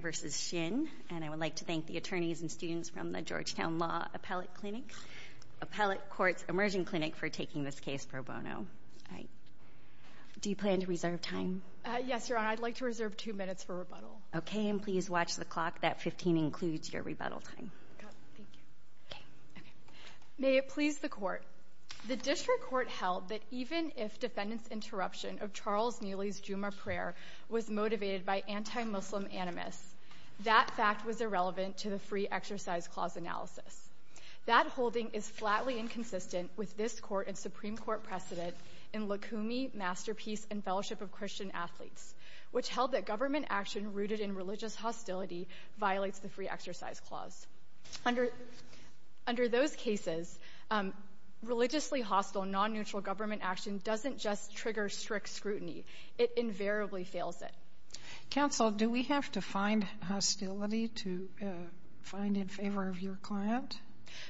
versus Shinn, and I would like to thank the attorneys for taking this case pro bono. That 15 includes your rebuttal time. May it please the Court. The District Court held that even if defendant's interruption of Charles Nealy's Jumu'ah prayer was motivated by anti-Muslim animus, that fact was irrelevant to the Free Exercise Clause analysis. That holding is flatly inconsistent with this Court and Supreme Court precedent in Lukumi, Masterpiece, and Fellowship of Christian Athletes, which held that government action rooted in religious hostility violates the Free Exercise Clause. Under those cases, religiously hostile, non-neutral government action doesn't just trigger strict scrutiny. It invariably fails it. Counsel, do we have to find hostility to find in favor of your client?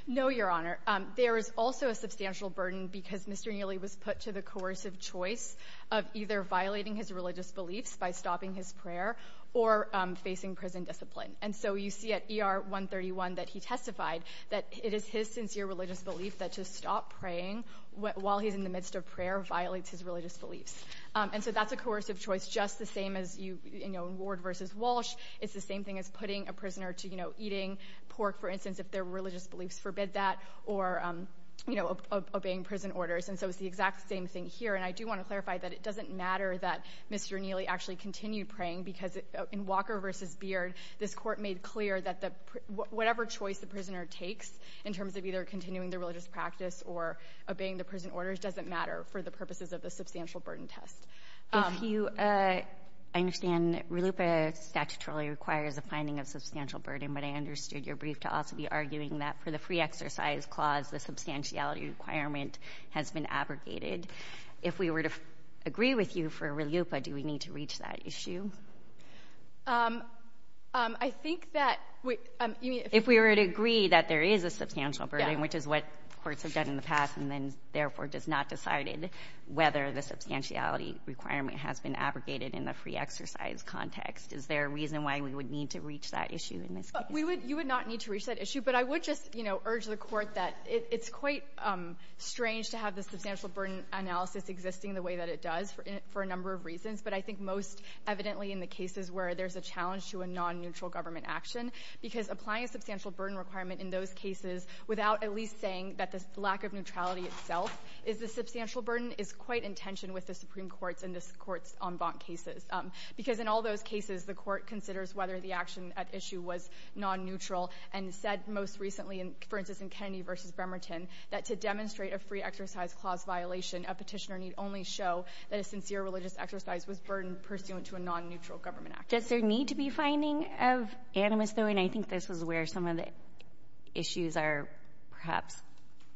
No, Your Honor. There is also a substantial burden because Mr. Nealy was put to the coercive choice of either violating his religious beliefs by stopping his prayer or facing prison discipline. And so you see at ER 131 that he testified that it is his sincere religious belief that to stop praying while he's in the midst of prayer violates his religious beliefs. And so that's a coercive choice just the same as in Ward versus Walsh. It's the same thing as putting a prisoner to eating pork, for instance, if their religious beliefs forbid that, or obeying prison orders. And so it's the exact same thing here. And I do want to clarify that it doesn't matter that Mr. Nealy actually continued praying because in Walker versus Beard, this Court made clear that whatever choice the prisoner takes in terms of either continuing their religious practice or obeying the prison orders doesn't matter for the purposes of the substantial burden test. If you — I understand RLUIPA statutorily requires a finding of substantial burden, but I understood your brief to also be arguing that for the Free Exercise Clause, the substantiality requirement has been abrogated. If we were to agree with you for RLUIPA, do we need to reach that issue? I think that we — If we were to agree that there is a substantial burden, which is what courts have done in the past and then, therefore, does not decided whether the substantiality requirement has been abrogated in the Free Exercise context, is there a reason why we would need to reach that issue in this case? You would not need to reach that issue. But I would just, you know, urge the Court that it's quite strange to have the substantial burden analysis existing the way that it does for a number of reasons, but I think most evidently in the cases where there's a challenge to a nonneutral government action, because applying a substantial burden requirement in those cases without at least saying that the lack of neutrality itself is the substantial burden is quite in tension with the Supreme Court's and this Court's en banc cases, because in all those cases, the Court considers whether the action at issue was nonneutral and said most recently, for instance, in Kennedy v. Bremerton, that to demonstrate a Free Exercise clause violation, a Petitioner need only show that a sincere religious exercise was burdened pursuant to a nonneutral government action. Does there need to be finding of animus, though? And I think this is where some of the issues are perhaps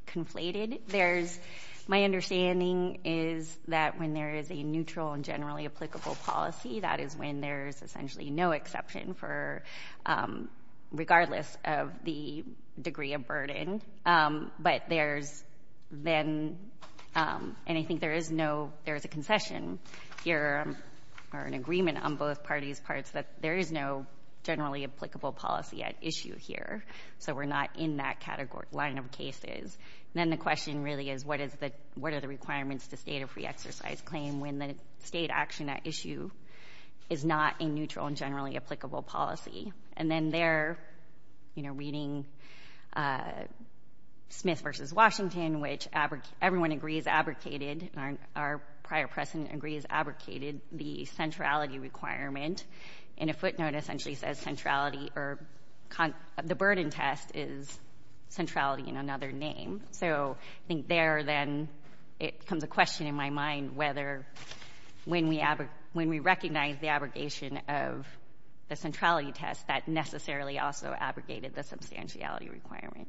conflated. There's — my understanding is that when there is a neutral and generally applicable policy, that is when there's essentially no exception for — regardless of whether there's a nonneutrality or not, regardless of the degree of burden. But there's then — and I think there is no — there is a concession here or an agreement on both parties' parts that there is no generally applicable policy at issue here, so we're not in that category — line of cases. And then the question really is what is the — what are the requirements to state a Free Exercise claim when the State action at issue is not a neutral and generally applicable policy? And then there, you know, reading Smith v. Washington, which everyone agrees abrogated, and our prior precedent agrees abrogated, the centrality requirement in a footnote essentially says centrality or — the burden test is centrality in another name. So I think there, then, it becomes a question in my mind whether, when we — when we recognize the abrogation of a nonneutral claim, the centrality test, that necessarily also abrogated the substantiality requirement.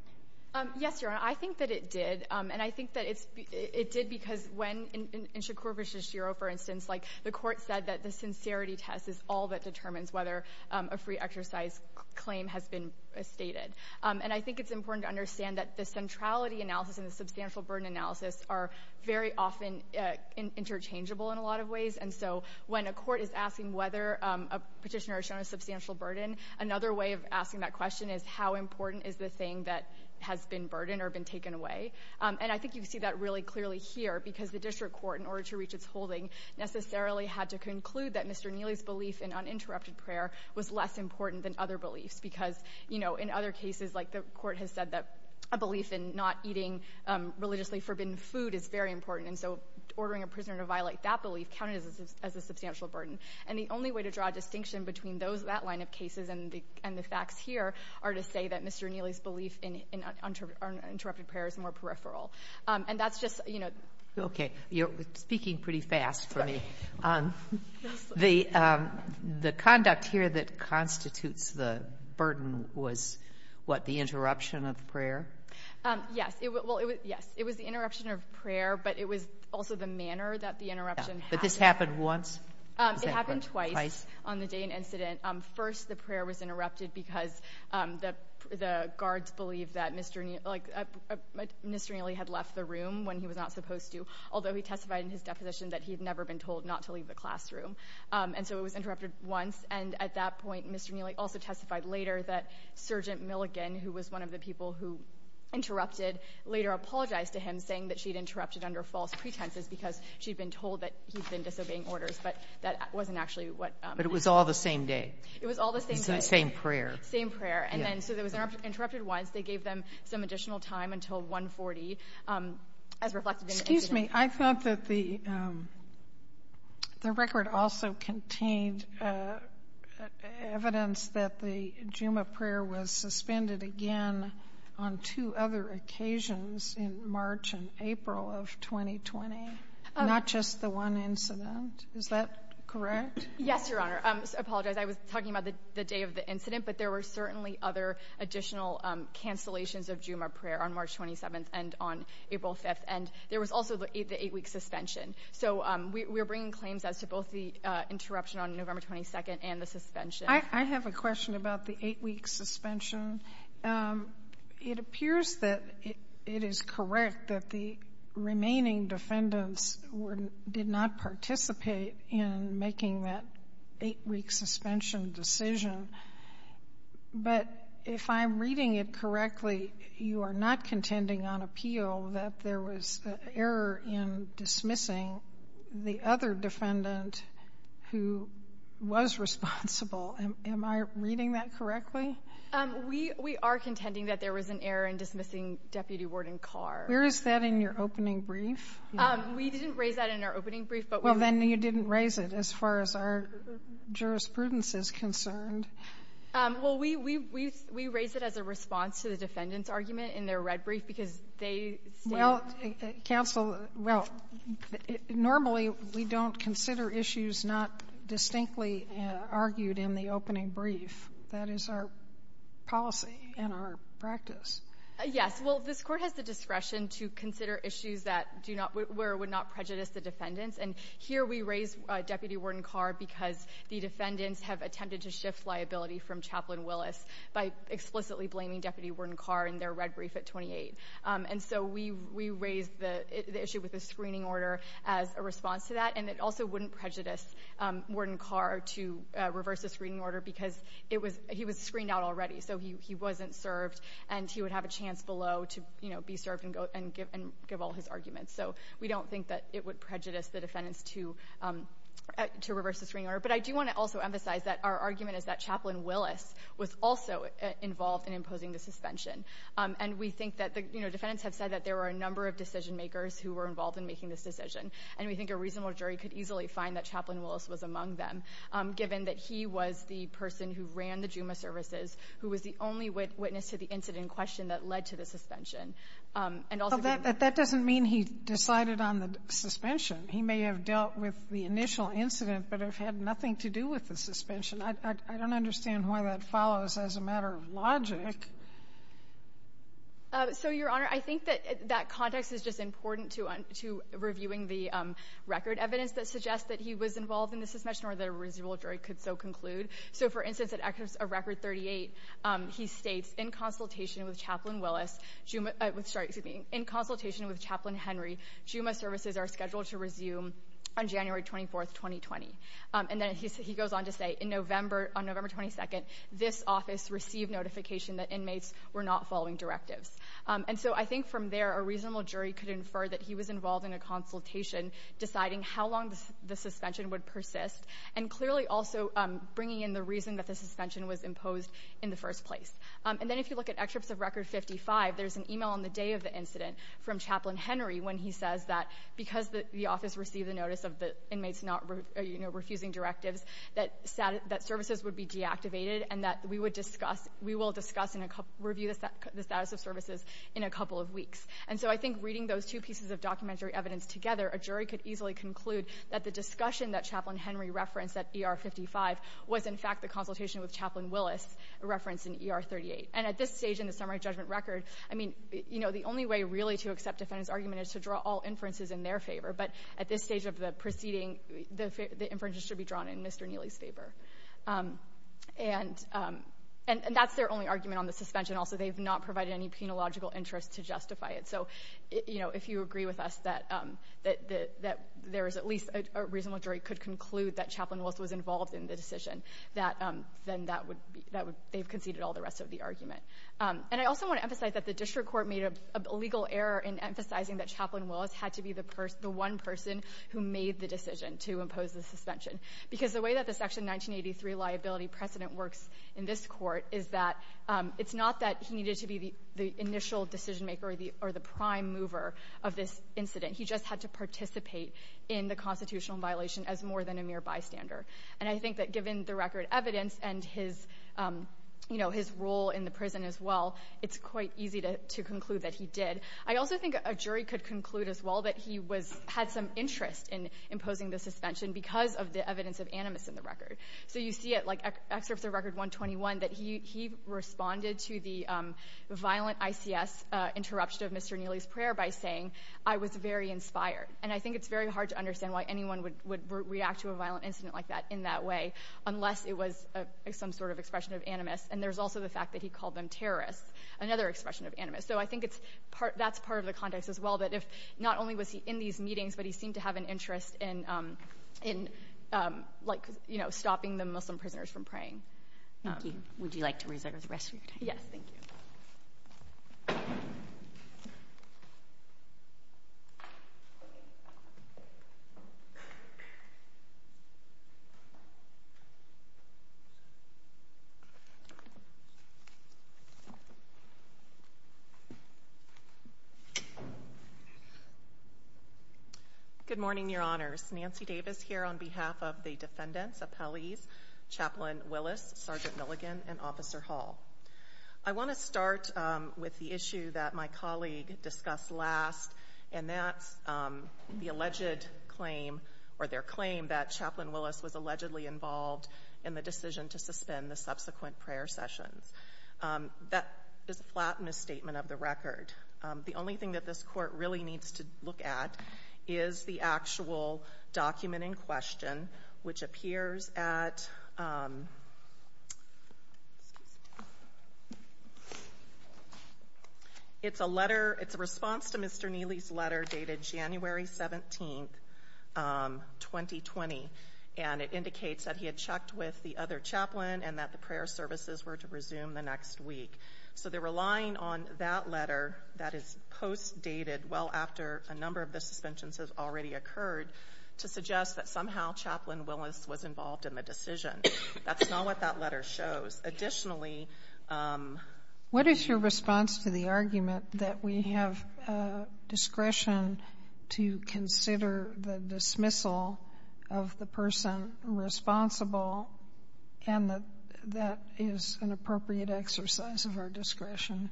Yes, Your Honor. I think that it did. And I think that it's — it did because when — in Shakur v. Shishiro, for instance, like, the Court said that the sincerity test is all that determines whether a Free Exercise claim has been stated. And I think it's important to understand that the centrality analysis and the substantial burden, another way of asking that question is how important is the thing that has been burdened or been taken away. And I think you can see that really clearly here, because the District Court, in order to reach its holding, necessarily had to conclude that Mr. Neely's belief in uninterrupted prayer was less important than other beliefs, because, you know, in other cases, like, the Court has said that a belief in not eating religiously forbidden food is very important. And so ordering a prisoner to violate that belief counted as a substantial burden. And the only way to draw a distinction between those — that line of cases and the facts here are to say that Mr. Neely's belief in uninterrupted prayer is more peripheral. And that's just, you know — Okay. You're speaking pretty fast for me. Sorry. The conduct here that constitutes the burden was, what, the interruption of prayer? Yes. Well, it was — yes. It was the interruption of prayer, but it was also the manner that the interruption happened. But this happened once? It happened twice on the day of an incident. First, the prayer was interrupted because the guards believed that Mr. Neely — like, Mr. Neely had left the room when he was not supposed to, although he testified in his deposition that he had never been told not to leave the classroom. And so it was interrupted once. And at that point, Mr. Neely also testified later that Sergeant Milligan, who was one of the people who interrupted, later apologized to him, saying that she'd interrupted under false pretenses because she'd been told that he'd been disobeying orders. But that wasn't actually what happened. But it was all the same day? It was all the same day. Same prayer. Same prayer. And then — so it was interrupted once. They gave them some additional time until 140, as reflected in the incident. Excuse me. I thought that the record also contained evidence that the Juma prayer was suspended again on two other occasions in March and April of 2020, not just the one incident. Is that correct? Yes, Your Honor. I apologize. I was talking about the day of the incident. But there were certainly other additional cancellations of Juma prayer on March 27th and on April 5th. And there was also the eight-week suspension. So we're bringing claims as to both the interruption on November 22nd and the suspension. I have a question about the eight-week suspension. It appears that it is correct that the remaining defendants did not participate in making that eight-week suspension decision. But if I'm reading it correctly, you are not contending on appeal that there was an error in dismissing the other defendant who was responsible. Am I reading that correctly? We are contending that there was an error in dismissing Deputy Warden Carr. Where is that in your opening brief? We didn't raise that in our opening brief. Well, then, you didn't raise it as far as our jurisprudence is concerned. Well, we raised it as a response to the defendant's argument in their red brief because they stated — Well, counsel, well, normally, we don't consider issues not distinctly argued in the opening brief. That is our policy and our practice. Yes. Well, this Court has the discretion to consider issues that do not — where it would not prejudice the defendants. And here we raise Deputy Warden Carr because the defendants have attempted to shift liability from Chaplain Willis by explicitly blaming Deputy Warden Carr in their red brief at 28. And so we raised the issue with the screening order as a response to that. And it also wouldn't prejudice Warden Carr to reverse the screening order because it was — he was screened out already, so he wasn't served, and he would have a chance below to, you know, be served and go — and give all his arguments. So we don't think that it would prejudice the defendants to reverse the screening order. But I do want to also emphasize that our argument is that Chaplain Willis was also involved in imposing the suspension. And we think that the — you know, defendants have said that there were a number of decisionmakers who were involved in making this decision, and we think a reasonable who ran the JUMA services, who was the only witness to the incident in question that led to the suspension. And also — But that doesn't mean he decided on the suspension. He may have dealt with the initial incident but have had nothing to do with the suspension. I don't understand why that follows as a matter of logic. So, Your Honor, I think that that context is just important to reviewing the record evidence that suggests that he was involved in the suspension or that a reasonable jury could so conclude. So, for instance, at records of record 38, he states, in consultation with Chaplain Willis, JUMA — sorry, excuse me — in consultation with Chaplain Henry, JUMA services are scheduled to resume on January 24th, 2020. And then he goes on to say, in November — on November 22nd, this office received notification that inmates were not following directives. And so I think from there, a reasonable jury could infer that he was involved in a consultation deciding how long the suspension would persist, and clearly also bringing in the reason that the suspension was imposed in the first place. And then if you look at excerpts of record 55, there's an email on the day of the incident from Chaplain Henry when he says that because the office received the notice of the inmates not — you know, refusing directives, that services would be deactivated and that we would discuss — we will discuss and review the status of services in a couple of weeks. And so I think reading those two pieces of documentary evidence together, a jury could easily conclude that the discussion that Chaplain Henry referenced at ER 55 was, in fact, the consultation with Chaplain Willis referenced in ER 38. And at this stage in the summary judgment record, I mean, you know, the only way really to accept defendants' argument is to draw all inferences in their favor. But at this stage of the proceeding, the inferences should be drawn in Mr. Neely's favor. And that's their only argument on the suspension. Also, they've not provided any penological interest to justify it. So, you know, if you agree with us that there is at least a reasonable jury could conclude that Chaplain Willis was involved in the decision, that then that would be — they've conceded all the rest of the argument. And I also want to emphasize that the district court made a legal error in emphasizing that Chaplain Willis had to be the one person who made the decision to impose the suspension, because the way that the Section 1983 liability precedent works in this court is that it's not that he needed to be the initial decision-maker or the prime mover of this incident. He just had to participate in the constitutional violation as more than a mere bystander. And I think that given the record evidence and his, you know, his role in the prison as well, it's quite easy to conclude that he did. I also think a jury could conclude as well that he was — had some interest in imposing the suspension because of the evidence of animus in the record. So you see it, like excerpts of Record 121, that he responded to the violent ICS interruption of Mr. Neely's prayer by saying, I was very inspired. And I think it's very hard to understand why anyone would react to a violent incident like that in that way unless it was some sort of expression of animus. And there's also the fact that he called them terrorists, another expression of animus. So I think it's — that's part of the context as well, that if not only was he in these meetings, but he seemed to have an interest in — in, like, you know, stopping the Muslim prisoners from praying. Thank you. Would you like to reserve the rest of your time? Yes. Thank you. Good morning, Your Honors. Nancy Davis here on behalf of the defendants, appellees, Chaplain Willis, Sergeant Milligan, and Officer Hall. I want to start with the issue that my colleague discussed last, and that's the alleged claim, or their claim, that Chaplain Willis was allegedly involved in the decision to suspend the subsequent prayer sessions. That is a flat misstatement of the record. The only thing that this Court really needs to look at is the actual document in question, which appears at — it's a letter — it's a response to Mr. Neely's letter dated January 17th, 2020. And it indicates that he had checked with the other chaplain and that the prayer services were to resume the next week. So they're relying on that letter that is post-dated well after a number of the suspensions have already occurred to suggest that somehow Chaplain Willis was involved in the decision. That's not what that letter shows. Additionally — What is your response to the argument that we have discretion to consider the dismissal of the person responsible and that that is an appropriate exercise of our discretion?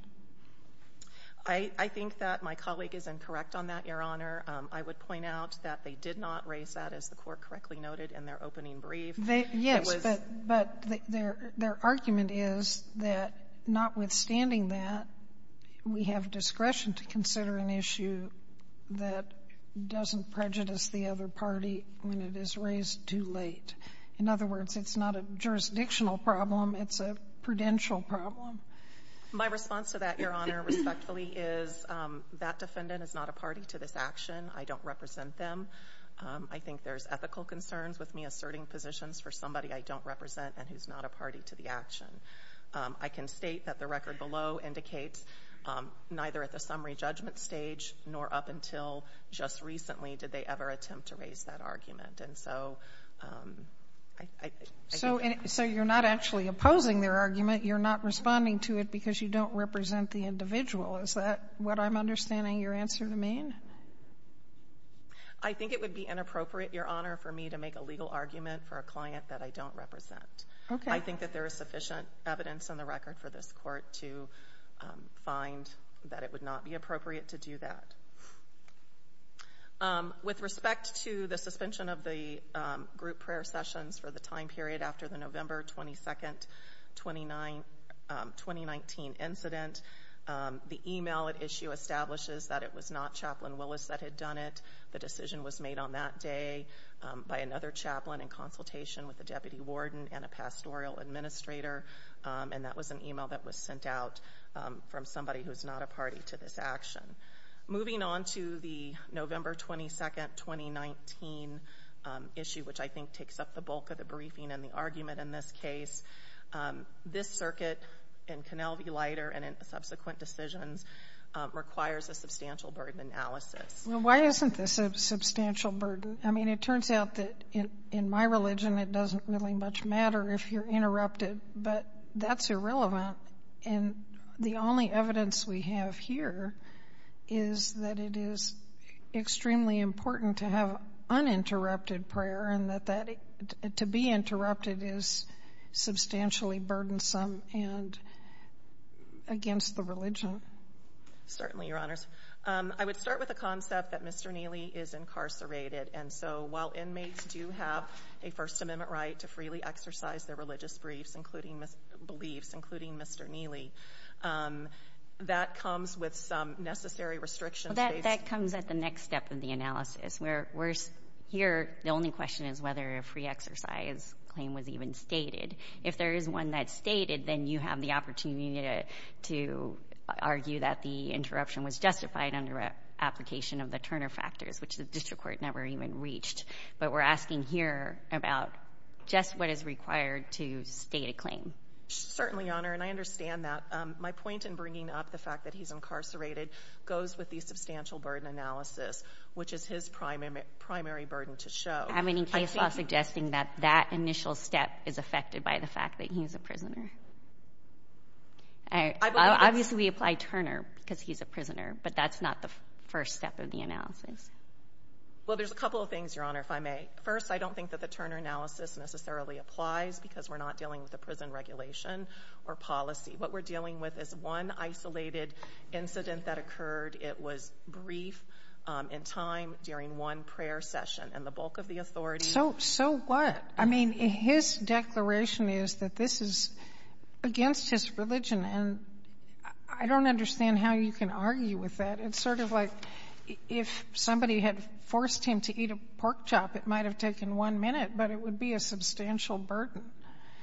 I think that my colleague is incorrect on that, Your Honor. I would point out that they did not raise that, as the Court correctly noted, in their opening brief. Yes, but their argument is that notwithstanding that, we have discretion to consider an issue that doesn't prejudice the other party when it is raised too late. In other words, it's not a jurisdictional problem. It's a prudential problem. My response to that, Your Honor, respectfully, is that defendant is not a party to this action. I don't represent them. I think there's ethical concerns with me asserting positions for somebody I don't represent and who's not a party to the action. I can state that the record below indicates neither at the summary judgment stage nor up until just recently did they ever attempt to raise that argument. And so I — So you're not actually opposing their argument. You're not responding to it because you don't represent the individual. Is that what I'm understanding your answer to mean? I think it would be inappropriate, Your Honor, for me to make a legal argument for a client that I don't represent. Okay. I think that there is sufficient evidence in the record for this court to find that it would not be appropriate to do that. With respect to the suspension of the group prayer sessions for the time period after the November 22, 2019 incident, the email at issue establishes that it was not Chaplain Willis that had done it. The decision was made on that day by another chaplain in consultation with the administrator, and that was an email that was sent out from somebody who's not a party to this action. Moving on to the November 22, 2019 issue, which I think takes up the bulk of the briefing and the argument in this case, this circuit in Conel v. Leiter and in subsequent decisions requires a substantial burden analysis. Well, why isn't this a substantial burden? I mean, it turns out that in my religion it doesn't really much matter if you're interrupted, but that's irrelevant, and the only evidence we have here is that it is extremely important to have uninterrupted prayer and that to be interrupted is substantially burdensome and against the religion. Certainly, Your Honors. I would start with the concept that Mr. Neely is incarcerated, and so while inmates do have a First Amendment right to freely exercise their religious beliefs, including Mr. Neely, that comes with some necessary restrictions. That comes at the next step of the analysis. Here, the only question is whether a free exercise claim was even stated. If there is one that's stated, then you have the opportunity to argue that the interruption was justified under application of the Turner factors, which the district court never even reached. But we're asking here about just what is required to state a claim. Certainly, Your Honor, and I understand that. My point in bringing up the fact that he's incarcerated goes with the substantial burden analysis, which is his primary burden to show. Do you have any case law suggesting that that initial step is affected by the fact that he's a prisoner? Obviously, we apply Turner because he's a prisoner, but that's not the first step of the analysis. Well, there's a couple of things, Your Honor, if I may. First, I don't think that the Turner analysis necessarily applies because we're not dealing with a prison regulation or policy. What we're dealing with is one isolated incident that occurred. It was brief in time during one prayer session, and the bulk of the authority So what? I mean, his declaration is that this is against his religion, and I don't understand how you can argue with that. It's sort of like if somebody had forced him to eat a pork chop, it might have taken one minute, but it would be a substantial burden.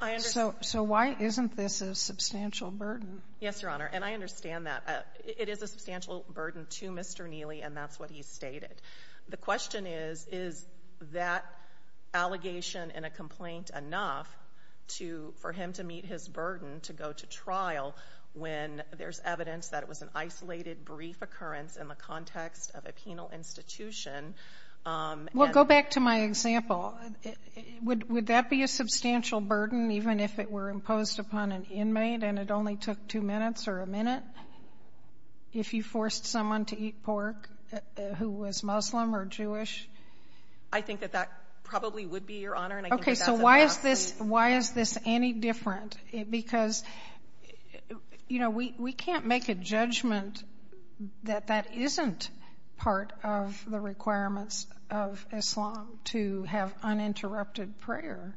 I understand. So why isn't this a substantial burden? Yes, Your Honor, and I understand that. It is a substantial burden to Mr. Neely, and that's what he stated. The question is, is that allegation in a complaint enough to — for him to meet his in the context of a penal institution and — Well, go back to my example. Would that be a substantial burden, even if it were imposed upon an inmate and it only took two minutes or a minute, if you forced someone to eat pork who was Muslim or Jewish? I think that that probably would be, Your Honor, and I think that's enough. Why is this any different? Because, you know, we can't make a judgment that that isn't part of the requirements of Islam to have uninterrupted prayer.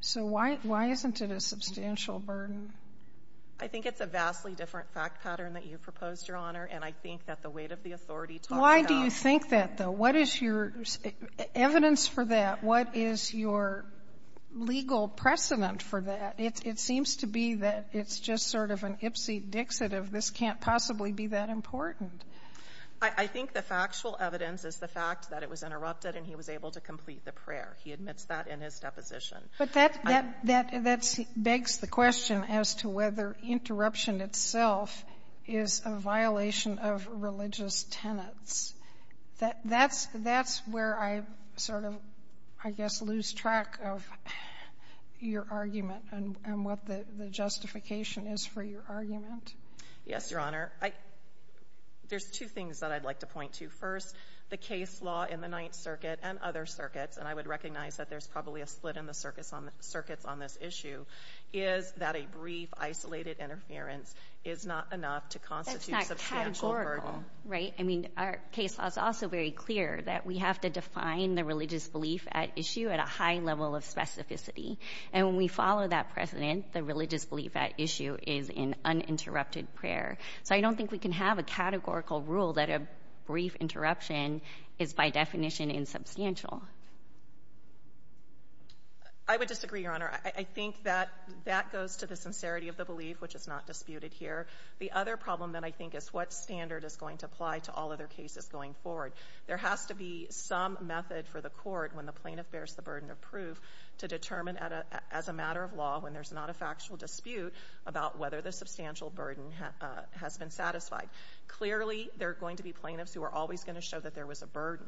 So why isn't it a substantial burden? I think it's a vastly different fact pattern that you've proposed, Your Honor, and I think that the weight of the authority talks about — Why do you think that, though? What is your evidence for that? What is your legal precedent for that? It seems to be that it's just sort of an ipsy-dixit of this can't possibly be that important. I think the factual evidence is the fact that it was interrupted and he was able to complete the prayer. He admits that in his deposition. But that — that begs the question as to whether interruption itself is a violation of religious tenets. That's where I sort of, I guess, lose track of your argument and what the justification is for your argument. Yes, Your Honor. There's two things that I'd like to point to. First, the case law in the Ninth Circuit and other circuits, and I would recognize that there's probably a split in the circuits on this issue, is that a brief isolated interference is not enough to constitute substantial burden. Right. I mean, our case law is also very clear that we have to define the religious belief at issue at a high level of specificity. And when we follow that precedent, the religious belief at issue is in uninterrupted prayer. So I don't think we can have a categorical rule that a brief interruption is by definition insubstantial. I would disagree, Your Honor. I think that that goes to the sincerity of the belief, which is not disputed here. The other problem, then, I think is what standard is going to apply to all other cases going forward. There has to be some method for the court, when the plaintiff bears the burden of proof, to determine as a matter of law, when there's not a factual dispute, about whether the substantial burden has been satisfied. Clearly, there are going to be plaintiffs who are always going to show that there was a burden.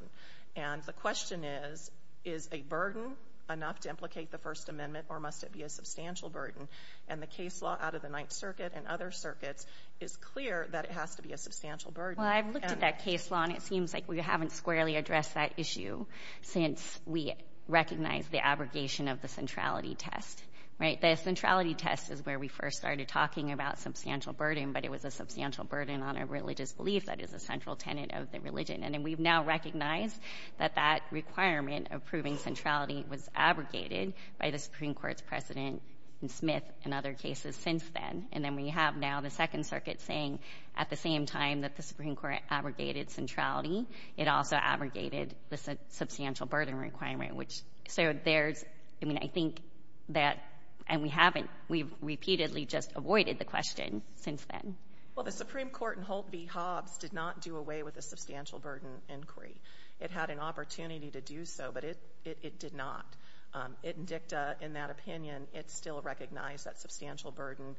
And the question is, is a burden enough to implicate the First Amendment, or must it be a substantial burden? And the case law out of the Ninth Circuit and other circuits is clear that it has to be a substantial burden. Well, I've looked at that case law, and it seems like we haven't squarely addressed that issue since we recognized the abrogation of the centrality test, right? The centrality test is where we first started talking about substantial burden, but it was a substantial burden on a religious belief that is a central tenet of the religion. And then we've now recognized that that requirement of proving centrality was abrogated by the Supreme Court's precedent in Smith and other cases since then. And then we have now the Second Circuit saying at the same time that the Supreme Court abrogated centrality, it also abrogated the substantial burden requirement, which so there's — I mean, I think that — and we haven't — we've repeatedly just avoided the question since then. Well, the Supreme Court in Holt v. Hobbs did not do away with a substantial burden inquiry. It had an opportunity to do so, but it did not. It and DICTA, in that opinion, it still recognized that substantial burden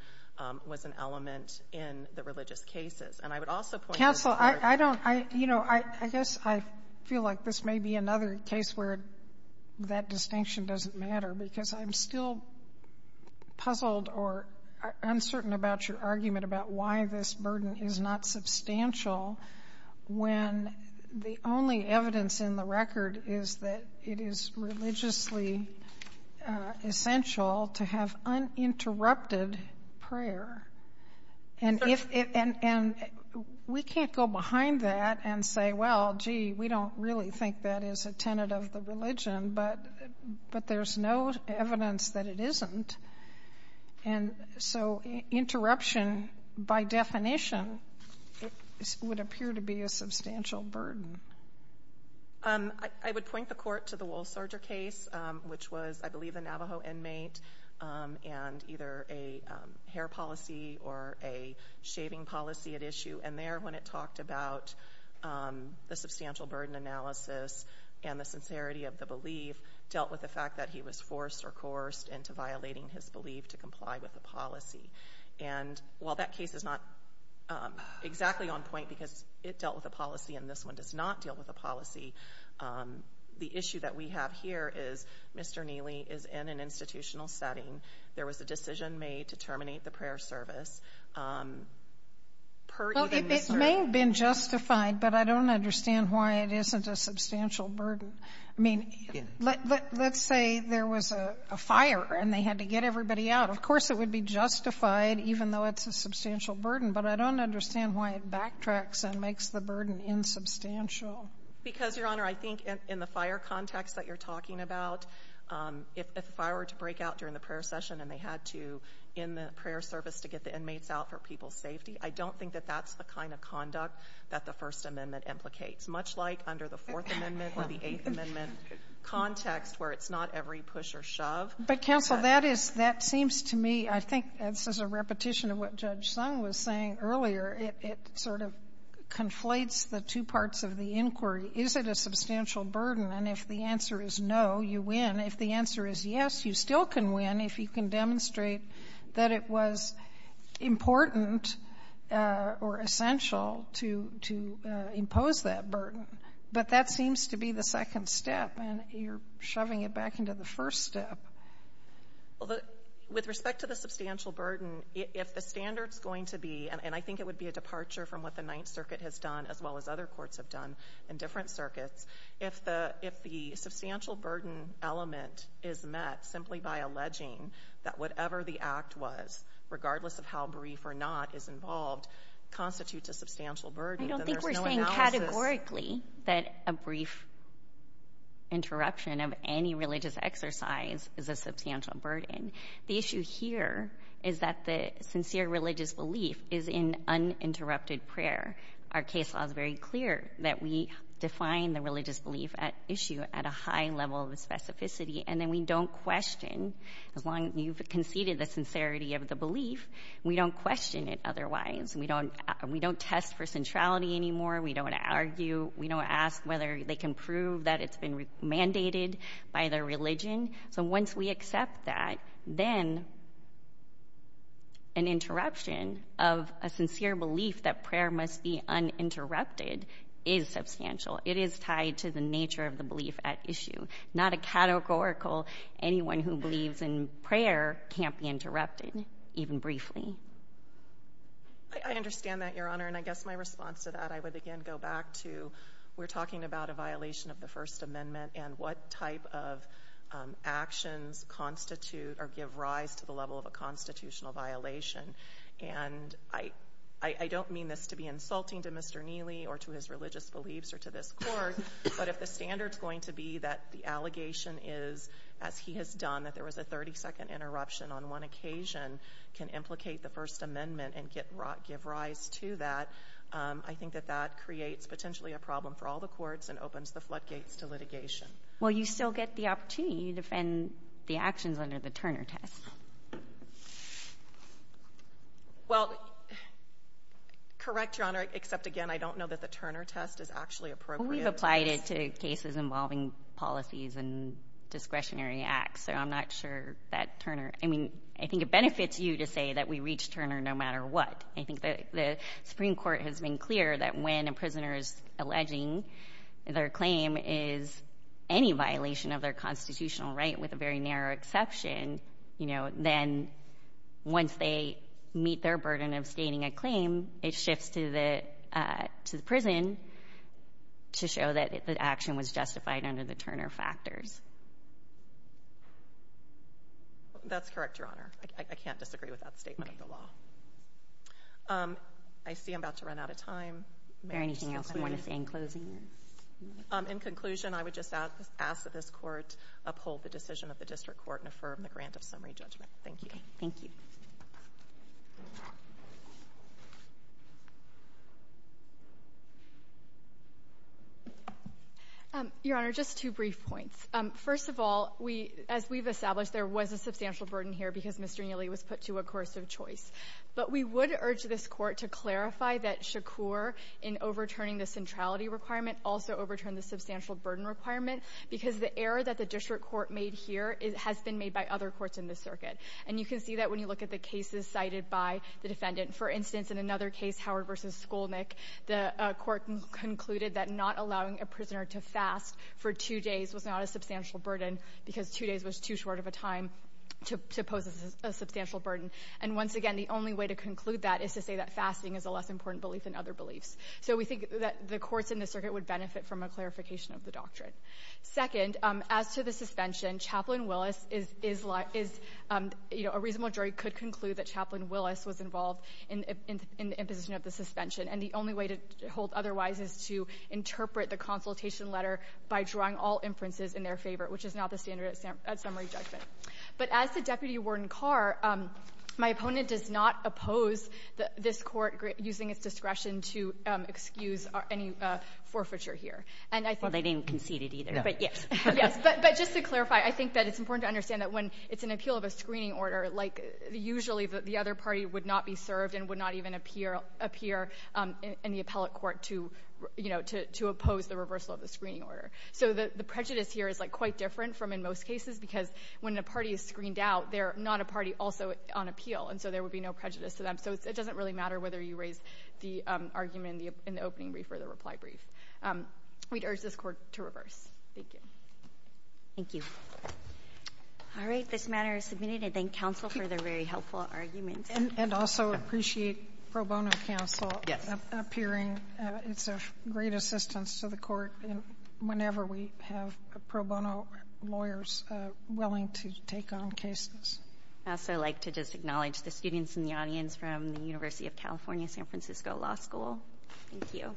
was an element in the religious cases. And I would also point to the third — Counsel, I don't — you know, I guess I feel like this may be another case where that distinction doesn't matter, because I'm still puzzled or uncertain about your argument about why this burden is not substantial when the only evidence in the record is that it is religiously essential to have uninterrupted prayer. And if — and we can't go behind that and say, well, gee, we don't really think that is a tenet of the religion, but there's no evidence that it isn't. And so interruption, by definition, would appear to be a substantial burden. I would point the Court to the wool serger case, which was, I believe, a Navajo inmate, and either a hair policy or a shaving policy at issue. And there, when it talked about the substantial burden analysis and the sincerity of the belief, dealt with the fact that he was forced or coerced into violating his belief to comply with the policy. And while that case is not exactly on point because it dealt with a policy and this one does not deal with a policy, the issue that we have here is Mr. Neely is in an institutional setting. There was a decision made to terminate the prayer service, per even Mr. — Well, it may have been justified, but I don't understand why it isn't a substantial burden. I mean, let's say there was a fire and they had to get everybody out. Of course, it would be justified, even though it's a substantial burden. But I don't understand why it backtracks and makes the burden insubstantial. Because, Your Honor, I think in the fire context that you're talking about, if a fire were to break out during the prayer session and they had to end the prayer service to get the inmates out for people's safety, I don't think that that's the kind of conduct that the First Amendment implicates, much like under the Fourth Amendment or the Eighth Amendment context where it's not every push or shove. But, Counsel, that is — that seems to me — I think this is a repetition of what Judge Sung was saying earlier. It sort of conflates the two parts of the inquiry. Is it a substantial burden? And if the answer is no, you win. If the answer is yes, you still can win if you can demonstrate that it was important or essential to impose that burden. But that seems to be the second step, and you're shoving it back into the first step. Well, with respect to the substantial burden, if the standard's going to be — and I think it would be a departure from what the Ninth Circuit has done, as well as other courts have done in different circuits — if the substantial burden element is met simply by alleging that whatever the act was, regardless of how brief or not, is involved, constitutes a substantial burden, then there's no analysis — that a brief interruption of any religious exercise is a substantial burden. The issue here is that the sincere religious belief is in uninterrupted prayer. Our case law is very clear that we define the religious belief issue at a high level of specificity, and then we don't question — as long as you've conceded the sincerity of the belief, we don't question it otherwise. We don't test for centrality anymore. We don't argue. We don't ask whether they can prove that it's been mandated by their religion. So once we accept that, then an interruption of a sincere belief that prayer must be uninterrupted is substantial. It is tied to the nature of the belief at issue. Not a categorical, anyone who believes in prayer can't be interrupted, even briefly. I understand that, Your Honor. And I guess my response to that, I would again go back to we're talking about a violation of the First Amendment and what type of actions constitute or give rise to the level of a constitutional violation. And I don't mean this to be insulting to Mr. Neely or to his religious beliefs or to this Court, but if the standard's going to be that the allegation is, as he has done, that there was a 30-second interruption on one occasion, can implicate the First Amendment and give rise to that, I think that that creates potentially a problem for all the courts and opens the floodgates to litigation. Well, you still get the opportunity to defend the actions under the Turner test. Well, correct, Your Honor, except again, I don't know that the Turner test is actually appropriate. Well, we've applied it to cases involving policies and discretionary acts, so I'm not sure that Turner. I mean, I think it benefits you to say that we reached Turner no matter what. I think the Supreme Court has been clear that when a prisoner is alleging their claim is any violation of their constitutional right, with a very narrow exception, you know, then once they meet their burden of stating a claim, it shifts to the prison to show that the action was justified under the Turner factors. That's correct, Your Honor. I can't disagree with that statement of the law. I see I'm about to run out of time. Is there anything else you want to say in closing? In conclusion, I would just ask that this Court uphold the decision of the District Court and affirm the grant of summary judgment. Thank you. Thank you. Your Honor, just two brief points. First of all, as we've established, there was a substantial burden here because Mr. Neely was put to a course of choice. But we would urge this Court to clarify that Shakur, in overturning the centrality requirement, also overturned the substantial burden requirement because the error that the District Court made here has been made by other courts in this circuit. And you can see that when you look at the cases cited by the defendant. For instance, in another case, Howard v. Skolnick, the Court concluded that not allowing a prisoner to fast for two days was not a substantial burden because two days was too short of a time to pose a substantial burden. And once again, the only way to conclude that is to say that fasting is a less important belief than other beliefs. So we think that the courts in this circuit would benefit from a clarification of the doctrine. Second, as to the suspension, Chaplain Willis is like — is, you know, a reasonable jury could conclude that Chaplain Willis was involved in the imposition of the suspension. And the only way to hold otherwise is to interpret the consultation letter by drawing all inferences in their favor, which is not the standard at summary judgment. But as the deputy warden Carr, my opponent does not oppose this Court using its discretion to excuse any forfeiture here. And I think — No. Yes. But just to clarify, I think that it's important to understand that when it's an appeal of a screening order, like, usually the other party would not be served and would not even appear in the appellate court to, you know, to oppose the reversal of the screening order. So the prejudice here is, like, quite different from in most cases because when a party is screened out, they're not a party also on appeal. And so there would be no prejudice to them. So it doesn't really matter whether you raise the argument in the opening brief or the reply brief. We'd urge this Court to reverse. Thank you. Thank you. All right. This matter is submitted. I thank counsel for their very helpful arguments. And also appreciate pro bono counsel appearing. Yes. It's a great assistance to the Court whenever we have pro bono lawyers willing to take on cases. I'd also like to just acknowledge the students in the audience from the University of California San Francisco Law School. Thank you. All rise.